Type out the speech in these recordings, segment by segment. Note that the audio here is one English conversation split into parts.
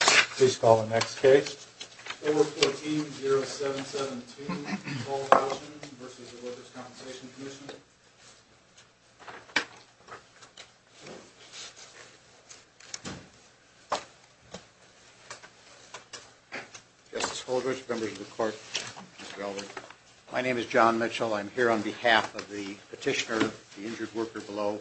Please call the next case. Order 14-07-17, Paul Houchin v. Workers' Compensation Comm'n. Justice Holdridge, members of the court, Mr. Eldridge. My name is John Mitchell. I'm here on behalf of the petitioner, the injured worker below.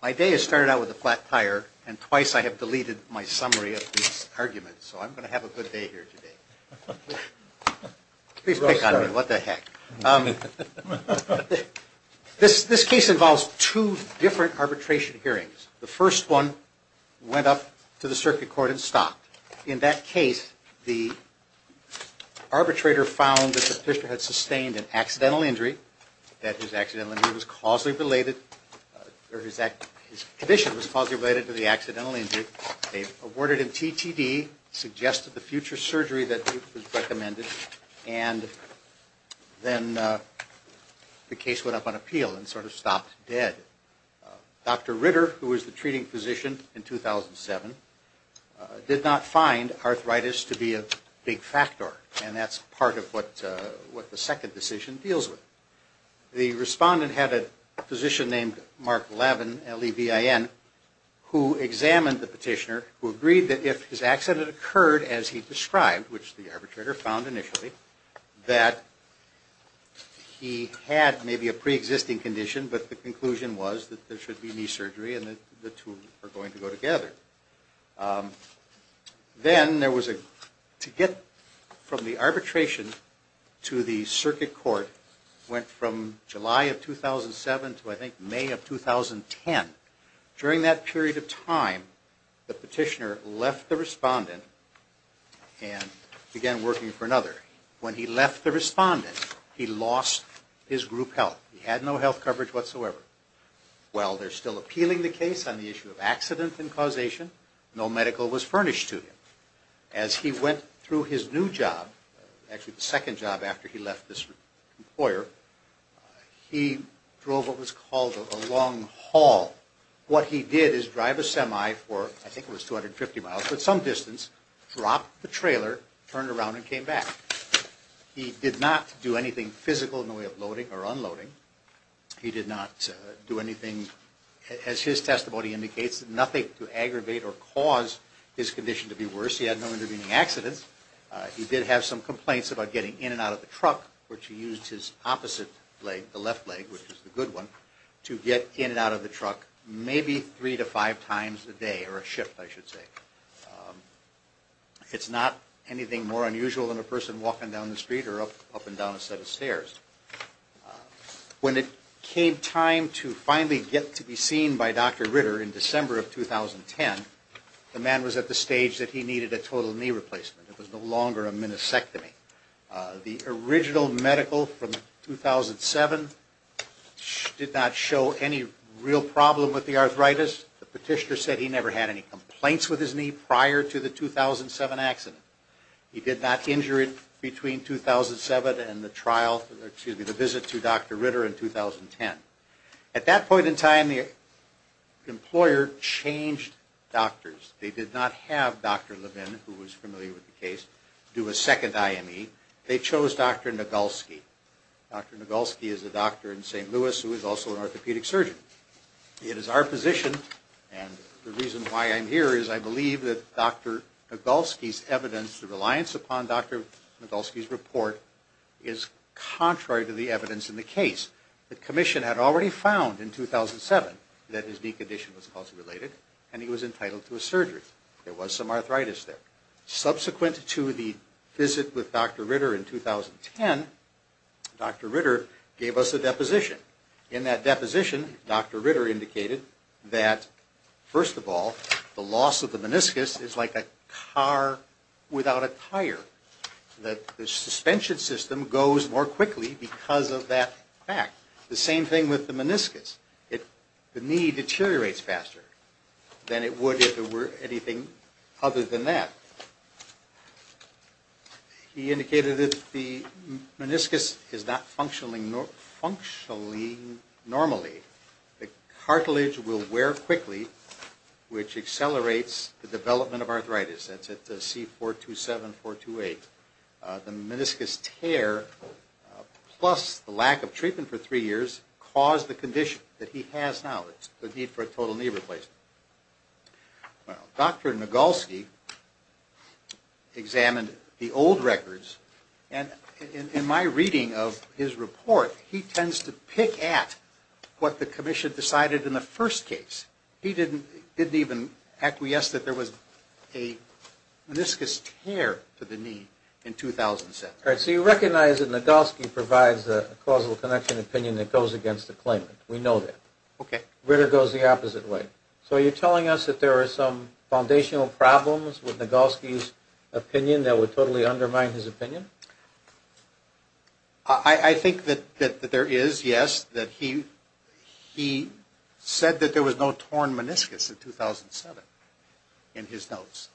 My day has started out with a flat tire, and twice I have deleted my summary of these arguments, so I'm going to have a good day here today. Please pick on me, what the heck. This case involves two different arbitration hearings. The first one went up to the circuit court and stopped. In that case, the arbitrator found that the petitioner had sustained an accidental injury, that his condition was causally related to the accidental injury. They awarded him TTD, suggested the future surgery that was recommended, and then the case went up on appeal and sort of stopped dead. Dr. Ritter, who was the treating physician in 2007, did not find arthritis to be a big factor, and that's part of what the second decision deals with. The respondent had a physician named Mark Levin, L-E-V-I-N, who examined the petitioner, who agreed that if his accident occurred as he described, which the arbitrator found initially, that he had maybe a preexisting condition, but the conclusion was that there should be knee surgery and that the two were going to go together. Then, to get from the arbitration to the circuit court went from July of 2007 to, I think, May of 2010. During that period of time, the petitioner left the respondent and began working for another. When he left the respondent, he lost his group health. He had no health coverage whatsoever. While they're still appealing the case on the issue of accident and causation, no medical was furnished to him. As he went through his new job, actually the second job after he left this employer, he drove what was called a long haul. What he did is drive a semi for, I think it was 250 miles, but some distance, dropped the trailer, turned around, and came back. He did not do anything physical in the way of loading or unloading. He did not do anything, as his testimony indicates, nothing to aggravate or cause his condition to be worse. He had no intervening accidents. He did have some complaints about getting in and out of the truck, which he used his opposite leg, the left leg, which is the good one, to get in and out of the truck maybe three to five times a day, or a shift, I should say. It's not anything more unusual than a person walking down the street or up and down a set of stairs. When it came time to finally get to be seen by Dr. Ritter in December of 2010, the man was at the stage that he needed a total knee replacement. It was no longer a minisectomy. The original medical from 2007 did not show any real problem with the arthritis. The petitioner said he never had any complaints with his knee prior to the 2007 accident. He did not injure it between 2007 and the trial, excuse me, the visit to Dr. Ritter in 2010. At that point in time, the employer changed doctors. They did not have Dr. Levin, who was familiar with the case, do a second IME. They chose Dr. Nagulski. Dr. Nagulski is a doctor in St. Louis who is also an orthopedic surgeon. It is our position, and the reason why I'm here is I believe that Dr. Nagulski's evidence, the reliance upon Dr. Nagulski's report, is contrary to the evidence in the case. The commission had already found in 2007 that his knee condition was cause-related, and he was entitled to a surgery. There was some arthritis there. Subsequent to the visit with Dr. Ritter in 2010, Dr. Ritter gave us a deposition. In that deposition, Dr. Ritter indicated that, first of all, the loss of the meniscus is like a car without a tire, that the suspension system goes more quickly because of that fact. The same thing with the meniscus. The knee deteriorates faster than it would if there were anything other than that. He indicated that the meniscus is not functioning normally. The cartilage will wear quickly, which accelerates the development of arthritis. That's at C427, 428. The meniscus tear, plus the lack of treatment for three years, caused the condition that he has now. It's the need for a total knee replacement. Well, Dr. Nagolsky examined the old records, and in my reading of his report, he tends to pick at what the commission decided in the first case. He didn't even acquiesce that there was a meniscus tear to the knee in 2007. All right, so you recognize that Nagolsky provides a causal connection opinion that goes against the claim. We know that. Okay. Ritter goes the opposite way. So are you telling us that there are some foundational problems with Nagolsky's opinion that would totally undermine his opinion? I think that there is, yes, that he said that there was no torn meniscus in 2007 in his notes.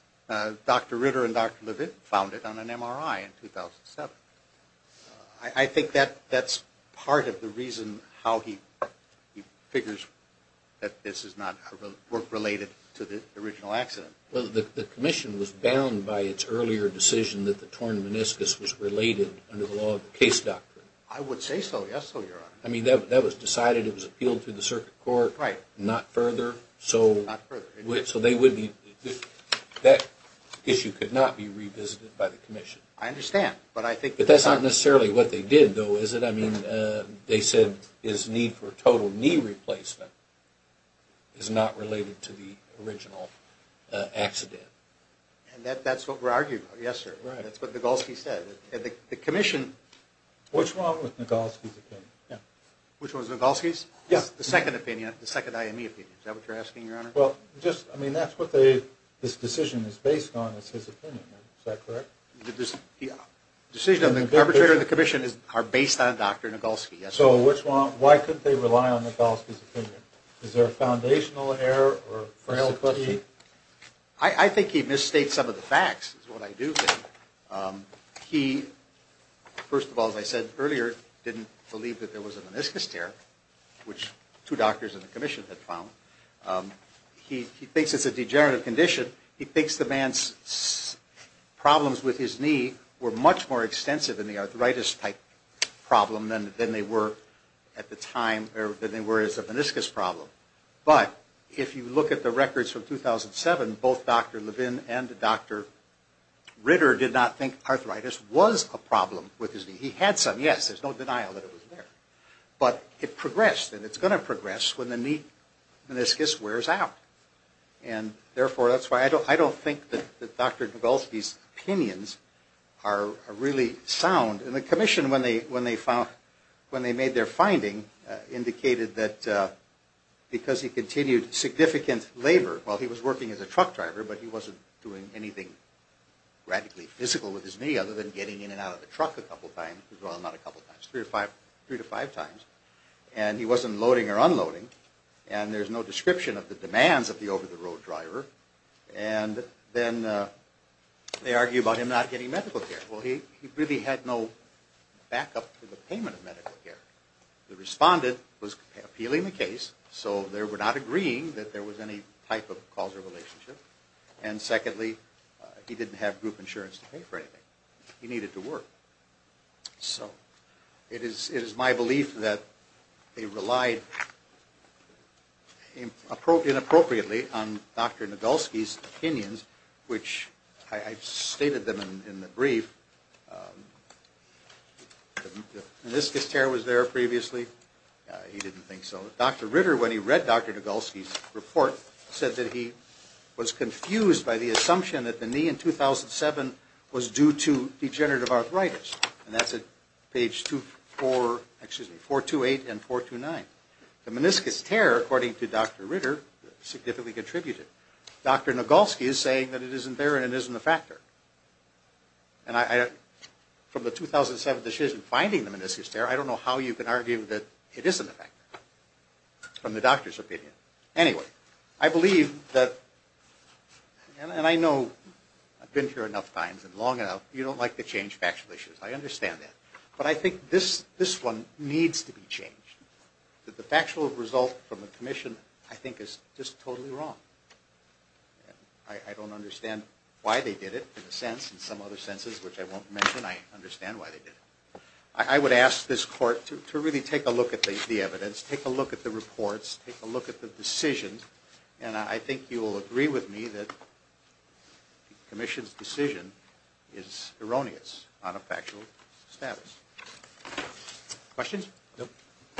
Dr. Ritter and Dr. Levitt found it on an MRI in 2007. I think that's part of the reason how he figures that this is not related to the original accident. Well, the commission was bound by its earlier decision that the torn meniscus was related under the law of the case doctrine. I would say so, yes, so, Your Honor. I mean, that was decided, it was appealed to the circuit court. Right. Not further. Not further. So that issue could not be revisited by the commission. I understand. But that's not necessarily what they did, though, is it? I mean, they said his need for total knee replacement is not related to the original accident. And that's what we're arguing about, yes, sir. Right. That's what Nagolsky said. The commission… Which one was Nagolsky's opinion? Yeah. Which one was Nagolsky's? Yes. The second opinion, the second IME opinion. Is that what you're asking, Your Honor? Well, just, I mean, that's what this decision is based on is his opinion. Is that correct? The decision of the arbitrator and the commission are based on Dr. Nagolsky. So why couldn't they rely on Nagolsky's opinion? Is there a foundational error or frail question? I think he misstates some of the facts, is what I do think. He, first of all, as I said earlier, didn't believe that there was a meniscus tear, which two doctors in the commission had found. He thinks it's a degenerative condition. He thinks the man's problems with his knee were much more extensive in the arthritis-type problem than they were as a meniscus problem. But if you look at the records from 2007, both Dr. Levin and Dr. Ritter did not think arthritis was a problem with his knee. He had some, yes. There's no denial that it was there. But it progressed, and it's going to progress when the meniscus wears out. Therefore, that's why I don't think that Dr. Nagolsky's opinions are really sound. And the commission, when they made their finding, indicated that because he continued significant labor, well, he was working as a truck driver, but he wasn't doing anything radically physical with his knee other than getting in and out of the truck a couple times. Well, not a couple times, three to five times. And he wasn't loading or unloading. And there's no description of the demands of the over-the-road driver. And then they argue about him not getting medical care. Well, he really had no backup for the payment of medical care. The respondent was appealing the case, so they were not agreeing that there was any type of causal relationship. And secondly, he didn't have group insurance to pay for anything. He needed to work. So it is my belief that they relied inappropriately on Dr. Nagolsky's opinions, which I've stated them in the brief. The meniscus tear was there previously. He didn't think so. Dr. Ritter, when he read Dr. Nagolsky's report, said that he was confused by the assumption that the knee in 2007 was due to degenerative arthritis. And that's at page 428 and 429. The meniscus tear, according to Dr. Ritter, significantly contributed. Dr. Nagolsky is saying that it isn't there and it isn't a factor. And from the 2007 decision finding the meniscus tear, I don't know how you can argue that it isn't a factor from the doctor's opinion. Anyway, I believe that, and I know I've been here enough times and long enough, you don't like to change factual issues. I understand that. But I think this one needs to be changed. The factual result from the commission, I think, is just totally wrong. I don't understand why they did it in a sense. In some other senses, which I won't mention, I understand why they did it. I would ask this court to really take a look at the evidence, take a look at the reports, take a look at the decision, and I think you will agree with me that the commission's decision is erroneous on a factual status. Questions?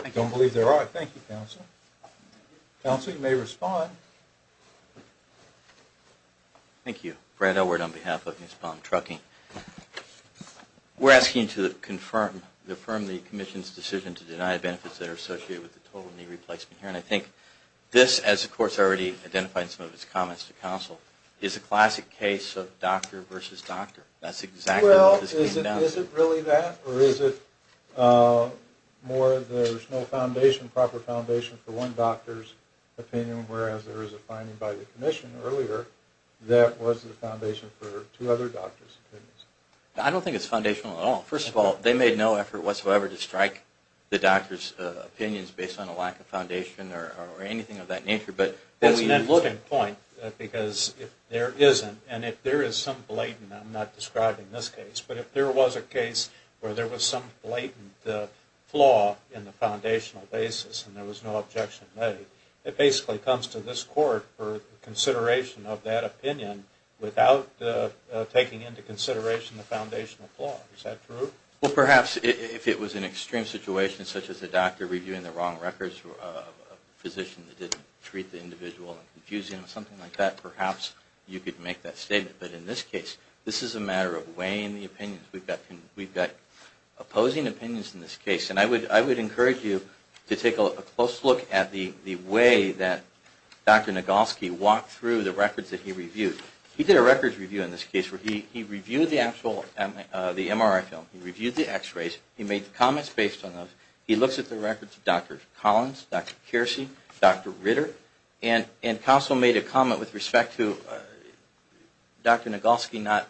I don't believe there are. Thank you, counsel. Counsel, you may respond. Thank you. Brad Elward on behalf of Ms. Baum-Trucking. We're asking to confirm, to affirm the commission's decision to deny benefits that are associated with the total knee replacement here. And I think this, as the court's already identified in some of its comments to counsel, is a classic case of doctor versus doctor. That's exactly what this came down to. Well, is it really that? Or is it more there's no foundation, proper foundation for one doctor's opinion, whereas there is a finding by the commission earlier that was the foundation for two other doctors' opinions? I don't think it's foundational at all. First of all, they made no effort whatsoever to strike the doctor's opinions based on a lack of foundation or anything of that nature. That's an important point because if there isn't, and if there is some blatant, I'm not describing this case, but if there was a case where there was some blatant flaw in the foundational basis and there was no objection made, it basically comes to this court for consideration of that opinion without taking into consideration the foundational flaw. Is that true? Well, perhaps if it was an extreme situation, such as a doctor reviewing the wrong records or a physician that didn't treat the individual and confusing them, something like that, perhaps you could make that statement. But in this case, this is a matter of weighing the opinions. We've got opposing opinions in this case. And I would encourage you to take a close look at the way that Dr. Nagolsky walked through the records that he reviewed. He did a records review in this case where he reviewed the MRI film, he reviewed the x-rays, he made the comments based on those. He looks at the records of Dr. Collins, Dr. Kearsey, Dr. Ritter, and also made a comment with respect to Dr. Nagolsky not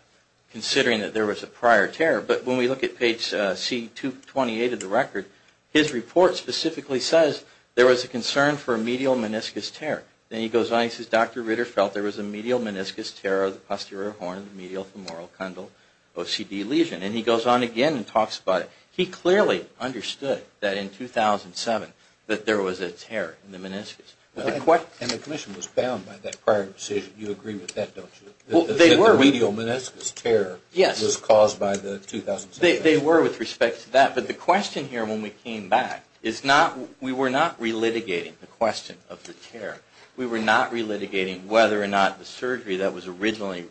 considering that there was a prior tear. But when we look at page C28 of the record, his report specifically says there was a concern for a medial meniscus tear. Then he goes on, he says, Dr. Ritter felt there was a medial meniscus tear of the posterior horn of the medial femoral condyle OCD lesion. And he goes on again and talks about it. He clearly understood that in 2007 that there was a tear in the meniscus. And the commission was bound by that prior decision. You agree with that, don't you? Well, they were. The medial meniscus tear was caused by the 2007. They were with respect to that. But the question here when we came back is not, we were not relitigating the question of the tear. We were not relitigating whether or not the surgery that was originally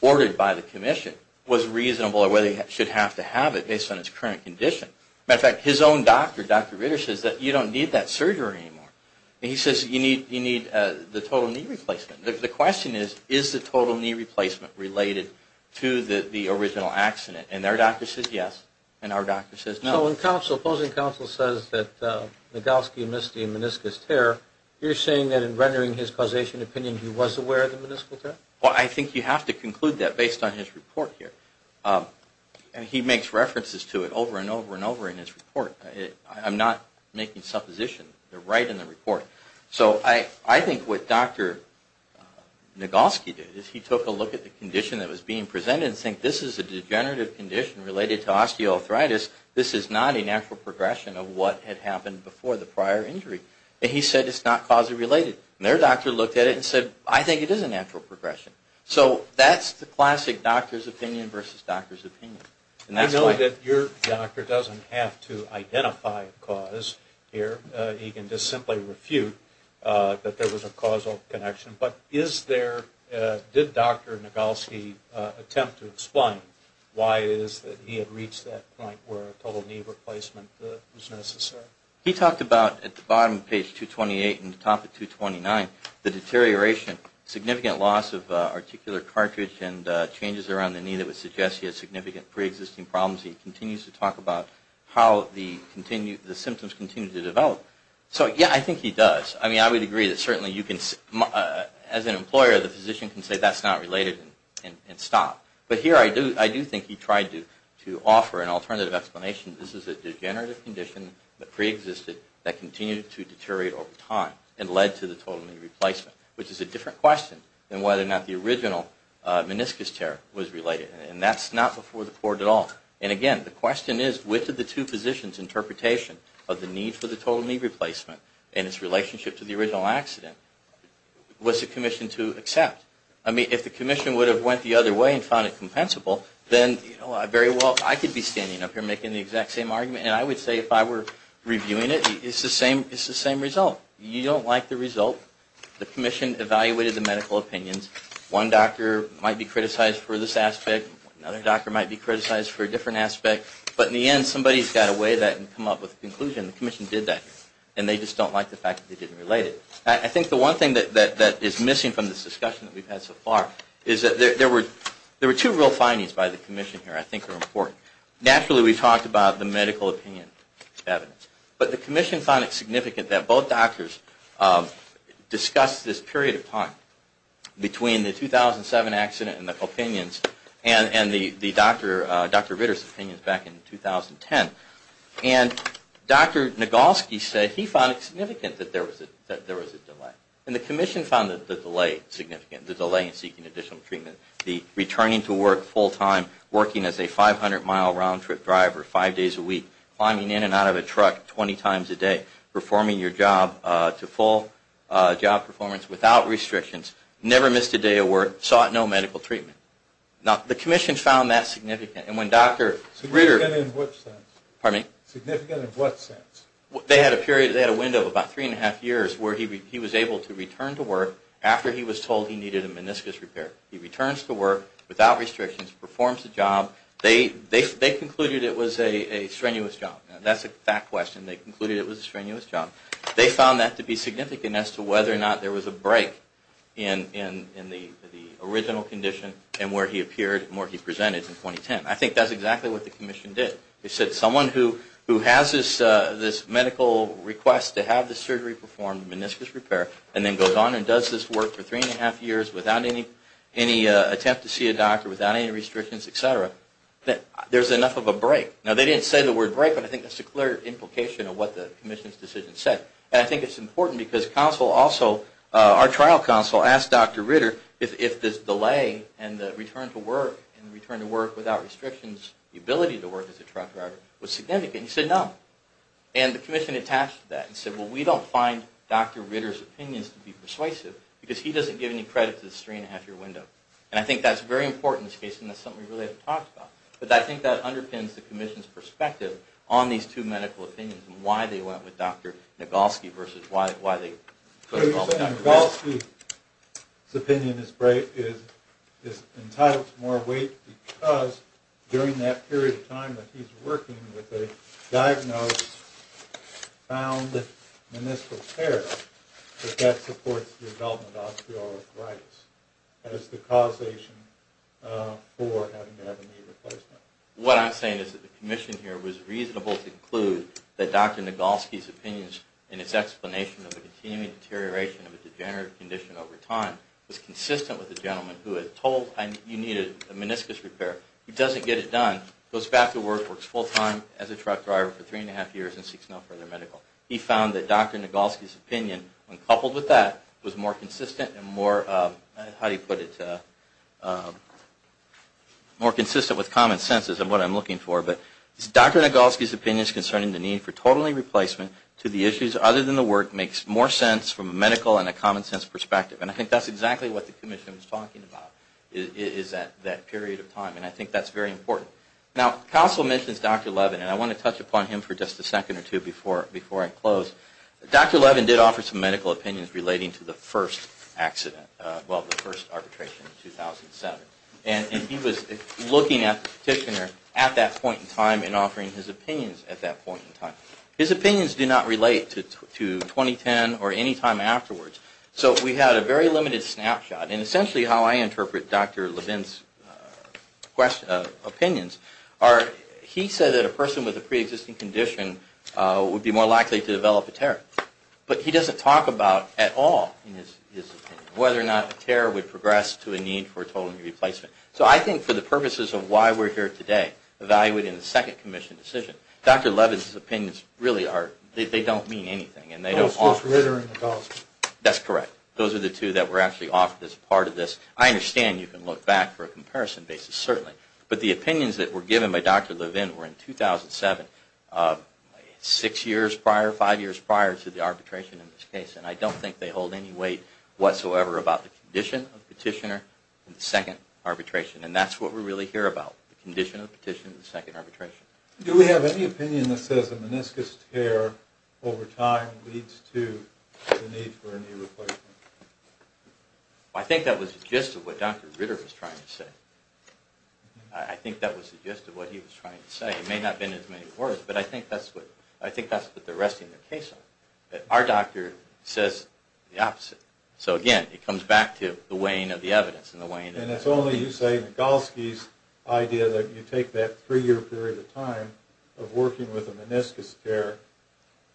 ordered by the commission was reasonable or whether it should have to have it based on its current condition. As a matter of fact, his own doctor, Dr. Ritter, says that you don't need that surgery anymore. And he says you need the total knee replacement. The question is, is the total knee replacement related to the original accident? And their doctor says yes. And our doctor says no. So when opposing counsel says that Nagolsky missed the meniscus tear, you're saying that in rendering his causation opinion he was aware of the meniscus tear? Well, I think you have to conclude that based on his report here. And he makes references to it over and over and over in his report. I'm not making supposition. They're right in the report. So I think what Dr. Nagolsky did is he took a look at the condition that was being presented and said this is a degenerative condition related to osteoarthritis. This is not a natural progression of what had happened before the prior injury. And he said it's not causally related. And their doctor looked at it and said, I think it is a natural progression. So that's the classic doctor's opinion versus doctor's opinion. I know that your doctor doesn't have to identify a cause here. He can just simply refute that there was a causal connection. But did Dr. Nagolsky attempt to explain why it is that he had reached that point where a total knee replacement was necessary? He talked about, at the bottom of page 228 and the top of 229, the deterioration, significant loss of articular cartridge and changes around the knee that would suggest he had significant preexisting problems. He continues to talk about how the symptoms continue to develop. So, yeah, I think he does. I mean, I would agree that certainly you can, as an employer, the physician can say that's not related and stop. But here I do think he tried to offer an alternative explanation. This is a degenerative condition that preexisted that continued to deteriorate over time and led to the total knee replacement, which is a different question than whether or not the original meniscus tear was related. And that's not before the court at all. And, again, the question is, which of the two physicians' interpretation of the need for the total knee replacement and its relationship to the original accident was the commission to accept? I mean, if the commission would have went the other way and found it compensable, then very well, I could be standing up here making the exact same argument. And I would say if I were reviewing it, it's the same result. You don't like the result. The commission evaluated the medical opinions. One doctor might be criticized for this aspect. Another doctor might be criticized for a different aspect. But in the end, somebody's got to weigh that and come up with a conclusion. The commission did that. And they just don't like the fact that they didn't relate it. I think the one thing that is missing from this discussion that we've had so far is that there were two real findings by the commission here I think are important. Naturally, we talked about the medical opinion evidence. But the commission found it significant that both doctors discussed this period of time between the 2007 accident and the opinions and the Dr. Ritter's opinions back in 2010. And Dr. Nagolsky said he found it significant that there was a delay. And the commission found the delay significant, the delay in seeking additional treatment, the returning to work full-time, working as a 500-mile round-trip driver five days a week, climbing in and out of a truck 20 times a day, performing your job to full job performance without restrictions, never missed a day of work, sought no medical treatment. Now, the commission found that significant. Significant in what sense? They had a window of about three and a half years where he was able to return to work after he was told he needed a meniscus repair. He returns to work without restrictions, performs the job. They concluded it was a strenuous job. That's a fact question. They concluded it was a strenuous job. They found that to be significant as to whether or not there was a break in the original condition and where he appeared and where he presented in 2010. I think that's exactly what the commission did. They said someone who has this medical request to have the surgery performed, meniscus repair, and then goes on and does this work for three and a half years without any attempt to see a doctor, without any restrictions, et cetera, that there's enough of a break. Now, they didn't say the word break, but I think that's a clear implication of what the commission's decision said. And I think it's important because counsel also, our trial counsel, asked Dr. Ritter if this delay and the return to work and the return to work without restrictions, the ability to work as a trial provider, was significant. He said no. And the commission attached to that and said, well, we don't find Dr. Ritter's opinions to be persuasive because he doesn't give any credit to the three and a half year window. And I think that's very important in this case, and that's something we really haven't talked about. But I think that underpins the commission's perspective on these two medical opinions And Dr. Nagolsky's opinion is entitled to more weight because during that period of time that he's working with a diagnosed, found, and this repair, that that supports the development of osteoarthritis as the causation for having to have a knee replacement. What I'm saying is that the commission here was reasonable to conclude that Dr. Nagolsky's opinions and his explanation of the continuing deterioration of a degenerative condition over time was consistent with the gentleman who had told you needed a meniscus repair. He doesn't get it done, goes back to work, works full time as a truck driver for three and a half years, and seeks no further medical. He found that Dr. Nagolsky's opinion, when coupled with that, was more consistent and more, how do you put it, more consistent with common sense is what I'm looking for. But Dr. Nagolsky's opinions concerning the need for total knee replacement to the issues other than the work makes more sense from a medical and a common sense perspective. And I think that's exactly what the commission was talking about is that period of time. And I think that's very important. Now, Council mentions Dr. Levin, and I want to touch upon him for just a second or two before I close. Dr. Levin did offer some medical opinions relating to the first accident, well, the first arbitration in 2007. And he was looking at the petitioner at that point in time and offering his opinions at that point in time. His opinions do not relate to 2010 or any time afterwards. So we had a very limited snapshot. And essentially how I interpret Dr. Levin's opinions are he said that a person with a preexisting condition would be more likely to develop a tear. But he doesn't talk about at all in his opinion whether or not a tear would progress to a need for a total knee replacement. So I think for the purposes of why we're here today, evaluating the second commission decision, Dr. Levin's opinions really are, they don't mean anything. And they don't offer. That's correct. Those are the two that were actually offered as part of this. I understand you can look back for a comparison basis, certainly. But the opinions that were given by Dr. Levin were in 2007, six years prior, five years prior to the arbitration in this case. And I don't think they hold any weight whatsoever about the condition of the petitioner in the second arbitration. And that's what we're really here about, the condition of the petitioner in the second arbitration. Do we have any opinion that says a meniscus tear over time leads to the need for a knee replacement? I think that was the gist of what Dr. Ritter was trying to say. I think that was the gist of what he was trying to say. It may not have been as many words, but I think that's what they're resting their case on. Our doctor says the opposite. So, again, it comes back to the weighing of the evidence and the weighing of the evidence. And it's only, you say, Minkowski's idea that you take that three-year period of time of working with a meniscus tear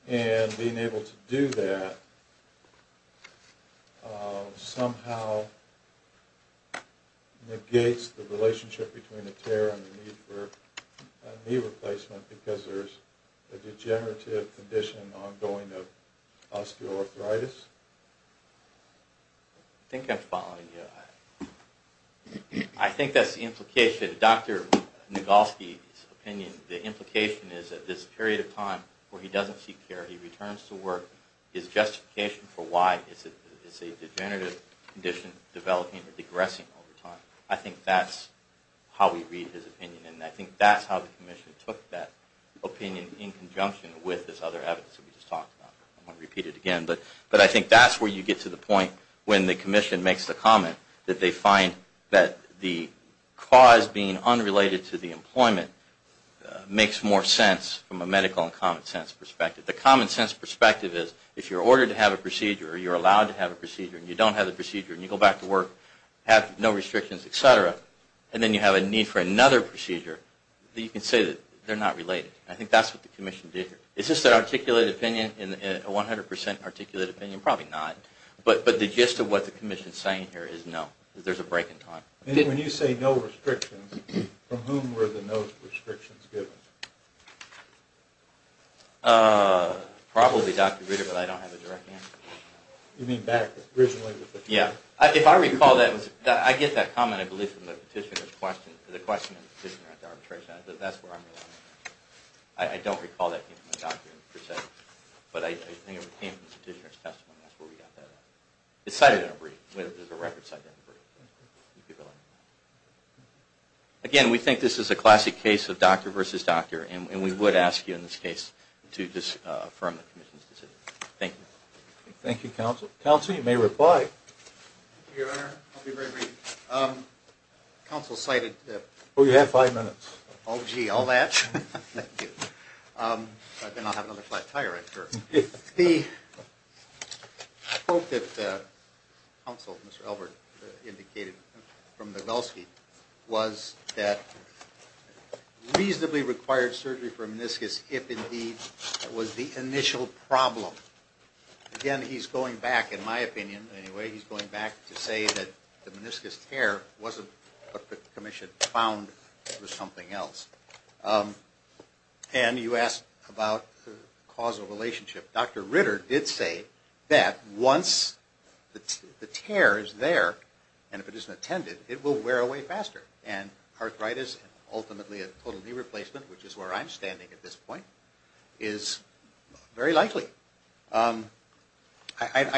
and being able to do that somehow negates the relationship between the tear and the need for a knee replacement because there's a degenerative condition ongoing of osteoarthritis. I think I'm following you. I think that's the implication. Dr. Minkowski's opinion, the implication is that this period of time where he doesn't seek care, he returns to work, his justification for why it's a degenerative condition developing or degressing over time, I think that's how we read his opinion. And I think that's how the commission took that opinion in conjunction with this other evidence that we just talked about. I don't want to repeat it again, but I think that's where you get to the point when the commission makes the comment that they find that the cause being unrelated to the employment makes more sense from a medical and common sense perspective. The common sense perspective is if you're ordered to have a procedure or you're allowed to have a procedure and you don't have the procedure and you go back to work, have no restrictions, et cetera, and then you have a need for another procedure, you can say that they're not related. I think that's what the commission did here. Is this an articulated opinion, a 100% articulated opinion? Probably not. But the gist of what the commission is saying here is no, there's a break in time. When you say no restrictions, from whom were the no restrictions given? Probably Dr. Ritter, but I don't have a direct answer. You mean back originally? Yeah. If I recall, I get that comment, I believe, from the petitioner's question. The question of the petitioner at the arbitration, that's where I'm relying on. I don't recall that being from a doctor, but I think it came from the petitioner's testimony. That's where we got that. It's cited in a brief. There's a record cited in a brief. Again, we think this is a classic case of doctor versus doctor, and we would ask you in this case to just affirm the commission's decision. Thank you. Thank you, counsel. Counsel, you may reply. Thank you, Your Honor. I'll be very brief. Counsel cited that. Oh, you have five minutes. Oh, gee, all that? Thank you. Then I'll have another flat tire, I'm sure. The quote that counsel, Mr. Elbert, indicated from Nagelsky, was that reasonably required surgery for meniscus, if indeed, was the initial problem. Again, he's going back, in my opinion anyway, he's going back to say that the meniscus tear wasn't what the commission found was something else. And you asked about the causal relationship. Dr. Ritter did say that once the tear is there, and if it isn't attended, it will wear away faster. And arthritis, ultimately a total knee replacement, which is where I'm standing at this point, is very likely. I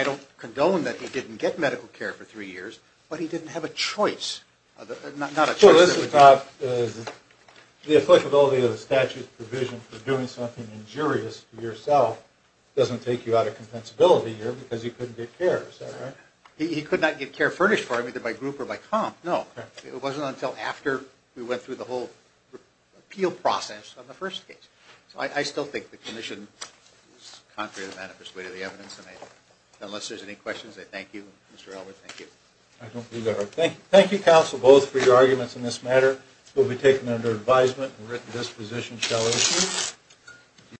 don't condone that he didn't get medical care for three years, but he didn't have a choice. The applicability of the statute provision for doing something injurious to yourself doesn't take you out of compensability here because he couldn't get care, is that right? He could not get care furnished for him either by group or by comp, no. It wasn't until after we went through the whole appeal process on the first case. So I still think the commission is contrary to the manifest way to the evidence. Unless there's any questions, I thank you. Mr. Elbert, thank you. I don't believe that. Thank you, counsel, both for your arguments on this matter. It will be taken under advisement. The written disposition shall issue.